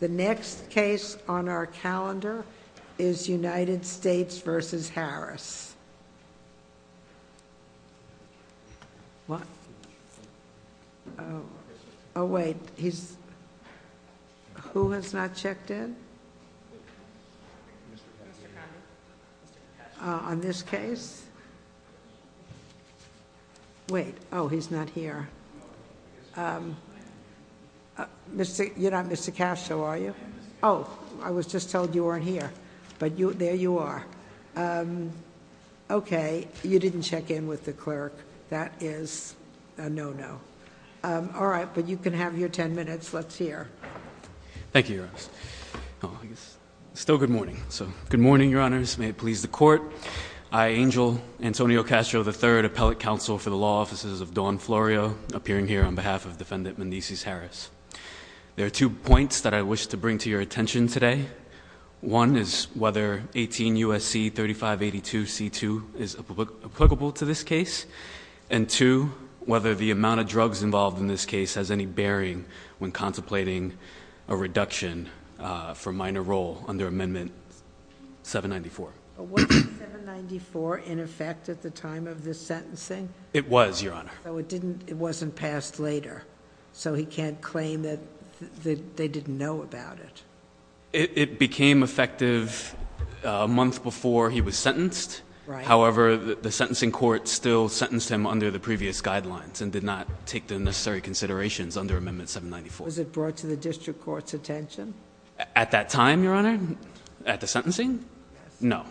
The next case on our calendar is United States v. Harris. What? Oh, wait. He's... Who has not checked in? On this case? Wait. Oh, he's not here. You're not Mr. Castro, are you? Oh, I was just told you weren't here. But there you are. Okay, you didn't check in with the clerk. That is a no-no. All right, but you can have your ten minutes. Let's hear. Thank you, Your Honor. Good morning, Your Honors. May it please the Court. I, Angel Antonio Castro III, Appellate Counsel for the Law Offices of Don Florio, appearing here on behalf of Defendant Menezes Harris. There are two points that I wish to bring to your attention today. One is whether 18 U.S.C. 3582 C.2. is applicable to this case. And two, whether the amount of drugs involved in this case has any bearing when contemplating a reduction for minor role under Amendment 794. But wasn't 794 in effect at the time of this sentencing? It was, Your Honor. So it wasn't passed later. So he can't claim that they didn't know about it. It became effective a month before he was sentenced. However, the sentencing court still sentenced him under the previous guidelines and did not take the necessary considerations under Amendment 794. Was it brought to the district court's attention? At that time, Your Honor? At the sentencing? Yes. No.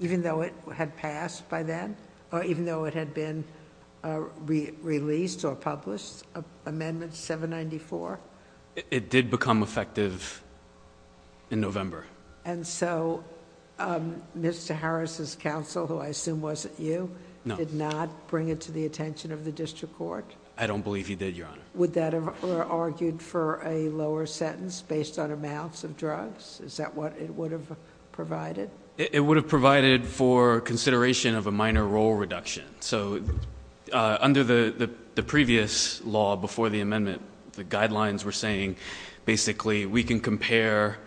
Even though it had passed by then? Or even though it had been released or published, Amendment 794? It did become effective in November. And so Mr. Harris' counsel, who I assume wasn't you... No.... did not bring it to the attention of the district court? I don't believe he did, Your Honor. Would that have argued for a lower sentence based on amounts of drugs? Is that what it would have provided? It would have provided for consideration of a minor role reduction. So under the previous law before the amendment, the guidelines were saying, basically, we can compare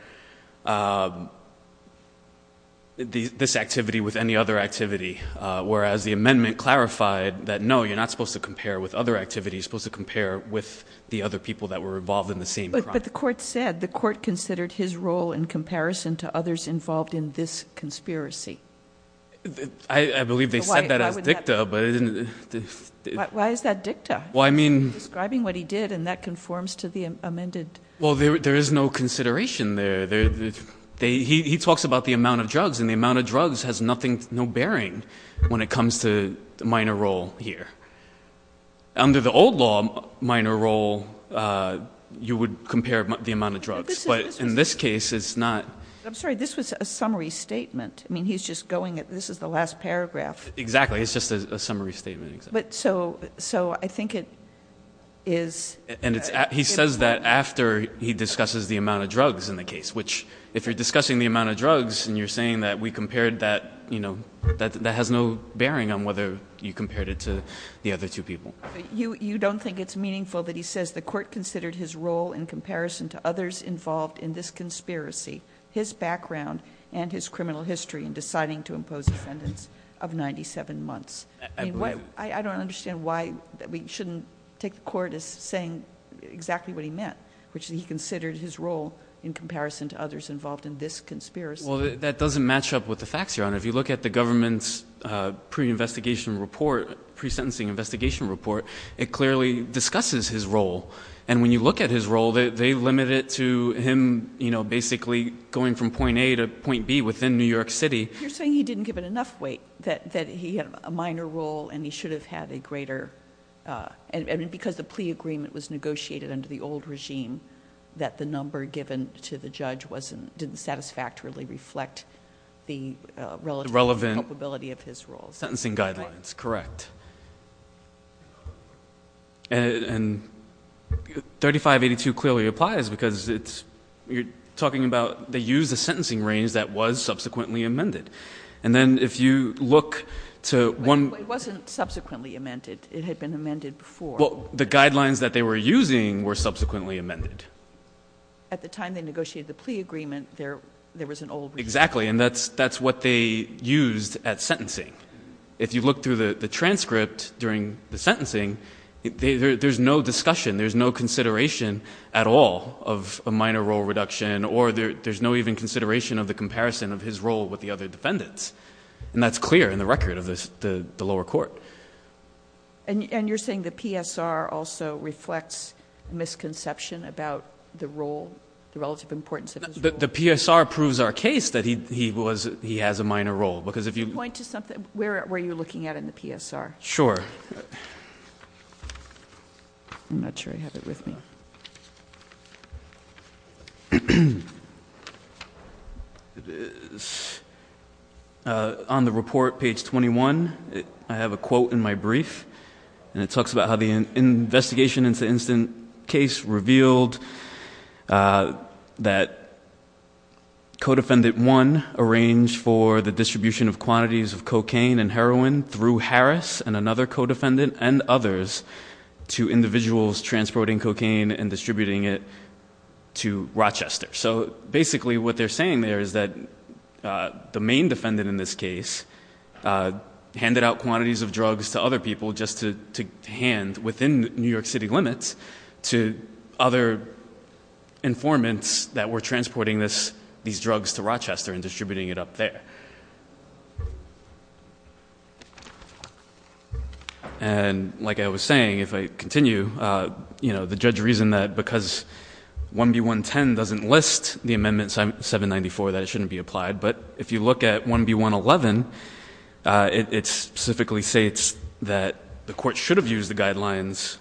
this activity with any other activity. Whereas the amendment clarified that, no, you're not supposed to compare with other activities. You're supposed to compare with the other people that were involved in the same crime. But the court said the court considered his role in comparison to others involved in this conspiracy. I believe they said that as dicta, but it didn't... Why is that dicta? Well, I mean... Describing what he did, and that conforms to the amended... Well, there is no consideration there. He talks about the amount of drugs, and the amount of drugs has no bearing when it comes to minor role here. Under the old law, minor role, you would compare the amount of drugs. But in this case, it's not... I'm sorry. This was a summary statement. I mean, he's just going... this is the last paragraph. Exactly. It's just a summary statement. So I think it is... And he says that after he discusses the amount of drugs in the case, which if you're discussing the amount of drugs and you're saying that we compared that, that has no bearing on whether you compared it to the other two people. You don't think it's meaningful that he says the court considered his role in comparison to others involved in this conspiracy, his background, and his criminal history in deciding to impose defendants of 97 months. I don't understand why we shouldn't take the court as saying exactly what he meant, which he considered his role in comparison to others involved in this conspiracy. I don't understand. If you look at the government's pre-investigation report, pre-sentencing investigation report, it clearly discusses his role. And when you look at his role, they limit it to him basically going from point A to point B within New York City. You're saying he didn't give it enough weight, that he had a minor role and he should have had a greater... And because the plea agreement was negotiated under the old regime, that the number given to the judge didn't satisfactorily reflect the relative... Relevant...... culpability of his role. Sentencing guidelines, correct. And 3582 clearly applies because it's... you're talking about they used a sentencing range that was subsequently amended. And then if you look to one... It wasn't subsequently amended. It had been amended before. Well, the guidelines that they were using were subsequently amended. At the time they negotiated the plea agreement, there was an old... Exactly. And that's what they used at sentencing. If you look through the transcript during the sentencing, there's no discussion. There's no consideration at all of a minor role reduction, or there's no even consideration of the comparison of his role with the other defendants. And that's clear in the record of the lower court. And you're saying the PSR also reflects misconception about the role, the relative importance of his role? The PSR proves our case that he has a minor role, because if you... Can you point to something? Where are you looking at in the PSR? Sure. I'm not sure I have it with me. It is on the report, page 21. I have a quote in my brief. And it talks about how the investigation into the incident case revealed that Codefendant 1 arranged for the distribution of quantities of cocaine and heroin through Harris and another codefendant and others to individuals transporting cocaine and distributing it to Rochester. So, basically what they're saying there is that the main defendant in this case handed out quantities of drugs to other people just to hand within New York City limits to other informants that were transporting these drugs to Rochester and distributing it up there. Okay. And like I was saying, if I continue, you know, the judge reasoned that because 1B110 doesn't list the amendment 794, that it shouldn't be applied. But if you look at 1B111, it specifically states that the court should have used the guidelines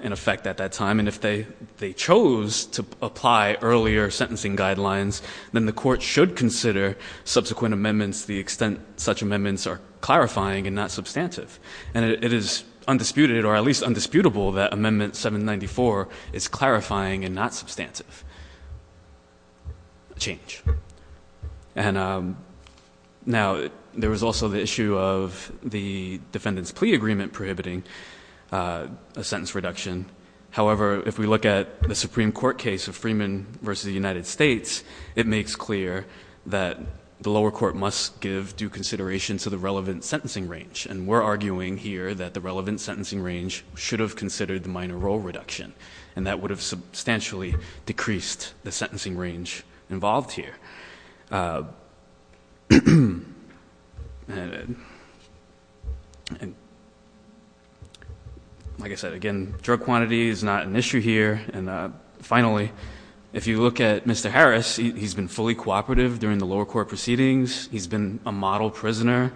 in effect at that time. And if they chose to apply earlier sentencing guidelines, then the court should consider subsequent amendments to the extent such amendments are clarifying and not substantive. And it is undisputed, or at least undisputable, that Amendment 794 is clarifying and not substantive. Change. Now, there was also the issue of the defendant's plea agreement prohibiting a sentence reduction. However, if we look at the Supreme Court case of Freeman v. United States, it makes clear that the lower court must give due consideration to the relevant sentencing range. And we're arguing here that the relevant sentencing range should have considered the minor role reduction. And that would have substantially decreased the sentencing range involved here. And like I said, again, drug quantity is not an issue here. And finally, if you look at Mr. Harris, he's been fully cooperative during the lower court proceedings. He's been a model prisoner.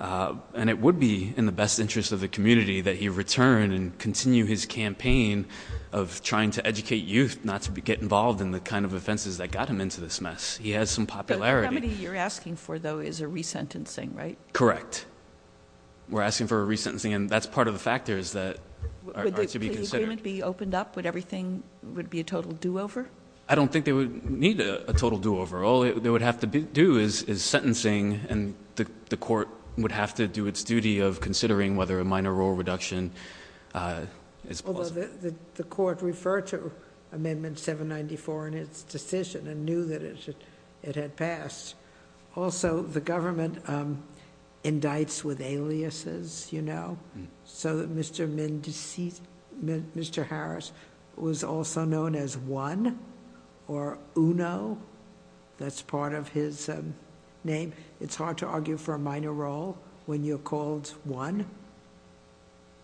And it would be in the best interest of the community that he return and continue his campaign of trying to educate youth, not to get involved in the kind of offenses that got him into this mess. He has some popularity. The committee you're asking for, though, is a resentencing, right? Correct. We're asking for a resentencing, and that's part of the factors that are to be considered. Would the plea agreement be opened up? Would everything be a total do-over? I don't think they would need a total do-over. All they would have to do is sentencing, and the court would have to do its duty of considering whether a minor role reduction is possible. Although the court referred to Amendment 794 in its decision and knew that it had passed. Also, the government indicts with aliases, you know, so that Mr. Harris was also known as One or Uno. That's part of his name. It's hard to argue for a minor role when you're called One.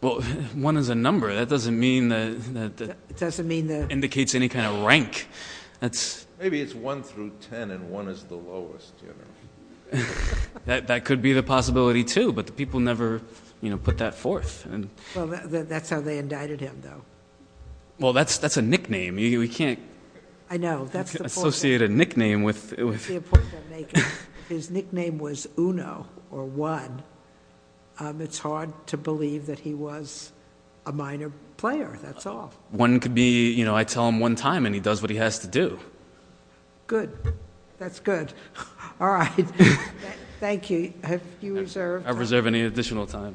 Well, One is a number. That doesn't mean that it indicates any kind of rank. Maybe it's 1 through 10, and 1 is the lowest. That could be the possibility, too, but the people never put that forth. Well, that's how they indicted him, though. Well, that's a nickname. We can't associate a nickname with... That's the point I'm making. His nickname was Uno or One. It's hard to believe that he was a minor player. That's all. One could be, you know, I tell him one time, and he does what he has to do. Good. That's good. All right. Thank you. Have you reserved... I reserve any additional time.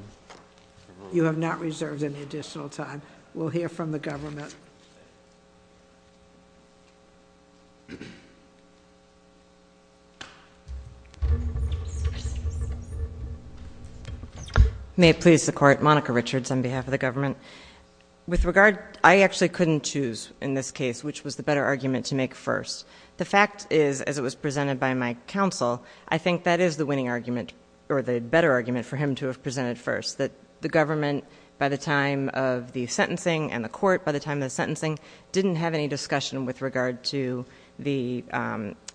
You have not reserved any additional time. We'll hear from the government. May it please the Court. Monica Richards on behalf of the government. With regard, I actually couldn't choose in this case which was the better argument to make first. The fact is, as it was presented by my counsel, I think that is the winning argument or the better argument for him to have presented first, that the government, by the time of the sentencing and the court, by the time of the sentencing, didn't have any discussion with regard to the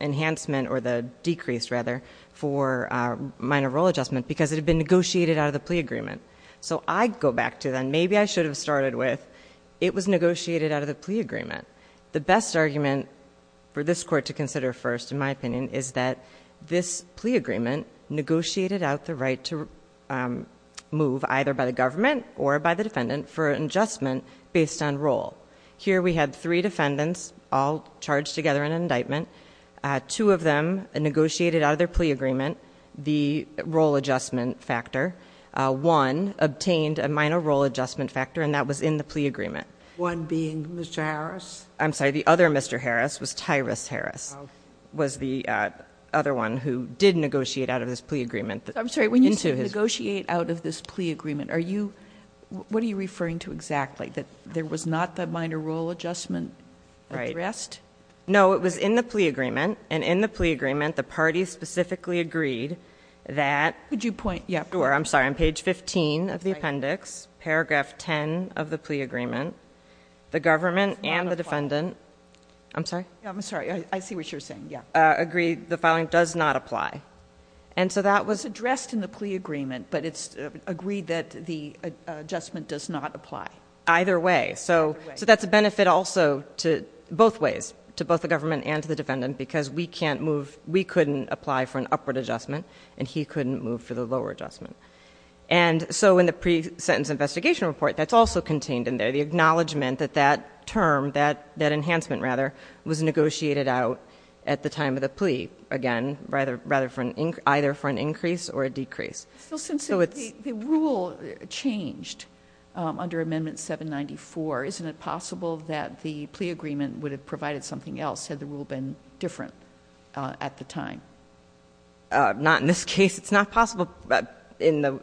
enhancement or the decrease, rather, for minor role adjustment because it had been negotiated out of the plea agreement. So I go back to then, maybe I should have started with, it was negotiated out of the plea agreement. The best argument for this Court to consider first, in my opinion, is that this plea agreement negotiated out the right to move either by the government or by the defendant for an adjustment based on role. Here we had three defendants all charged together in an indictment. Two of them negotiated out of their plea agreement the role adjustment factor. One obtained a minor role adjustment factor, and that was in the plea agreement. One being Mr. Harris? I'm sorry, the other Mr. Harris was Tyrus Harris, was the other one who did negotiate out of this plea agreement. I'm sorry, when you say negotiate out of this plea agreement, what are you referring to exactly, that there was not the minor role adjustment addressed? No, it was in the plea agreement, and in the plea agreement, the parties specifically agreed that... Could you point... I'm sorry, on page 15 of the appendix, paragraph 10 of the plea agreement, the government and the defendant... I'm sorry? I'm sorry, I see what you're saying, yeah. Agreed the filing does not apply. And so that was... Addressed in the plea agreement, but it's agreed that the adjustment does not apply. Either way, so that's a benefit also to both ways, to both the government and to the defendant, because we can't move... we couldn't apply for an upward adjustment, and he couldn't move for the lower adjustment. And so in the pre-sentence investigation report, that's also contained in there, the acknowledgment that that term, that enhancement rather, was negotiated out at the time of the plea, again, either for an increase or a decrease. So since the rule changed under Amendment 794, isn't it possible that the plea agreement would have provided something else had the rule been different at the time? Not in this case. It's not possible in the...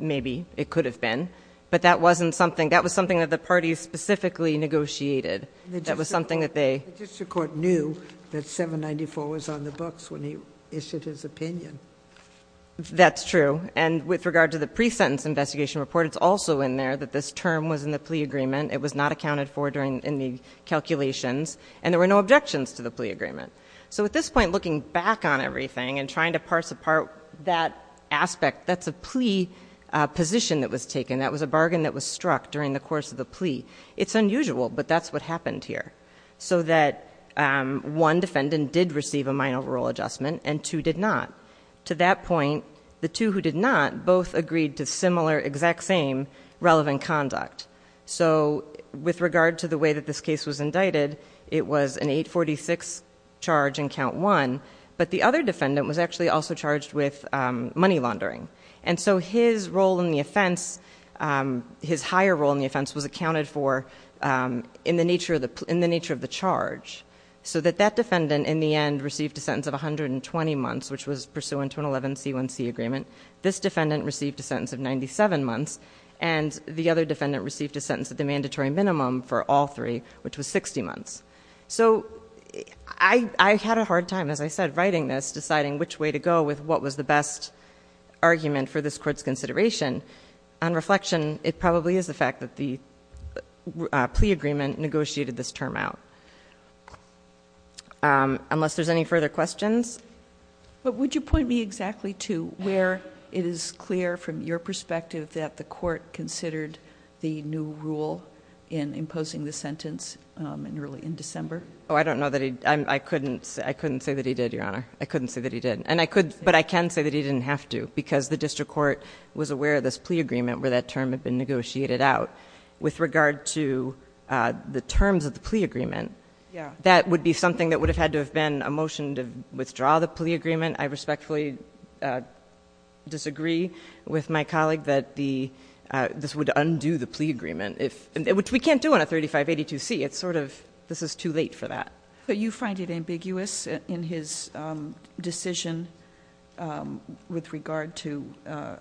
maybe it could have been, but that wasn't something... that was something that the parties specifically negotiated. That was something that they... The district court knew that 794 was on the books when he issued his opinion. That's true. And with regard to the pre-sentence investigation report, it's also in there that this term was in the plea agreement. It was not accounted for in the calculations, and there were no objections to the plea agreement. So at this point, looking back on everything and trying to parse apart that aspect, that's a plea position that was taken. That was a bargain that was struck during the course of the plea. It's unusual, but that's what happened here. So that one defendant did receive a minor rule adjustment, and two did not. To that point, the two who did not both agreed to similar, exact same, relevant conduct. So with regard to the way that this case was indicted, it was an 846 charge in Count 1, but the other defendant was actually also charged with money laundering. And so his role in the offense, his higher role in the offense, was accounted for in the nature of the charge. So that that defendant, in the end, received a sentence of 120 months, which was pursuant to an 11C1C agreement. This defendant received a sentence of 97 months, and the other defendant received a sentence at the mandatory minimum for all three, which was 60 months. So I had a hard time, as I said, writing this, deciding which way to go with what was the best argument for this court's consideration. On reflection, it probably is the fact that the plea agreement negotiated this term out. Unless there's any further questions? But would you point me exactly to where it is clear, from your perspective, that the court considered the new rule in imposing the sentence in December? Oh, I don't know. I couldn't say that he did, Your Honor. I couldn't say that he did. But I can say that he didn't have to, because the district court was aware of this plea agreement where that term had been negotiated out. With regard to the terms of the plea agreement, that would be something that would have had to have been a motion to withdraw the plea agreement. I respectfully disagree with my colleague that this would undo the plea agreement, which we can't do on a 3582C. It's sort of, this is too late for that. But you find it ambiguous in his decision with regard to, well,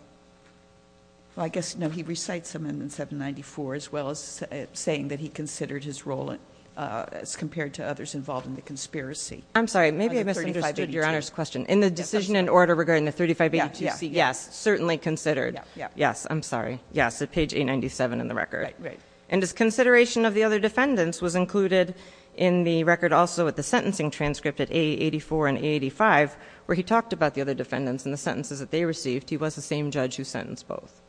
I guess, no, he recites Amendment 794, as well as saying that he considered his role as compared to others involved in the conspiracy. I'm sorry, maybe I misunderstood Your Honor's question. In the decision in order regarding the 3582C, yes, certainly considered. Yes, I'm sorry. Yes, at page 897 in the record. Right, right. And his consideration of the other defendants was included in the record also with the sentencing transcript at A84 and A85, where he talked about the other defendants and the sentences that they received. He was the same judge who sentenced both.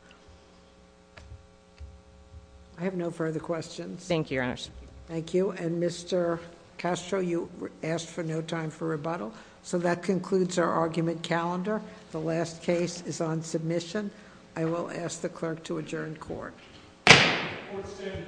I have no further questions. Thank you, Your Honor. Thank you. And Mr. Castro, you asked for no time for rebuttal. So that concludes our argument calendar. The last case is on submission. I will ask the clerk to adjourn court. Court is adjourned.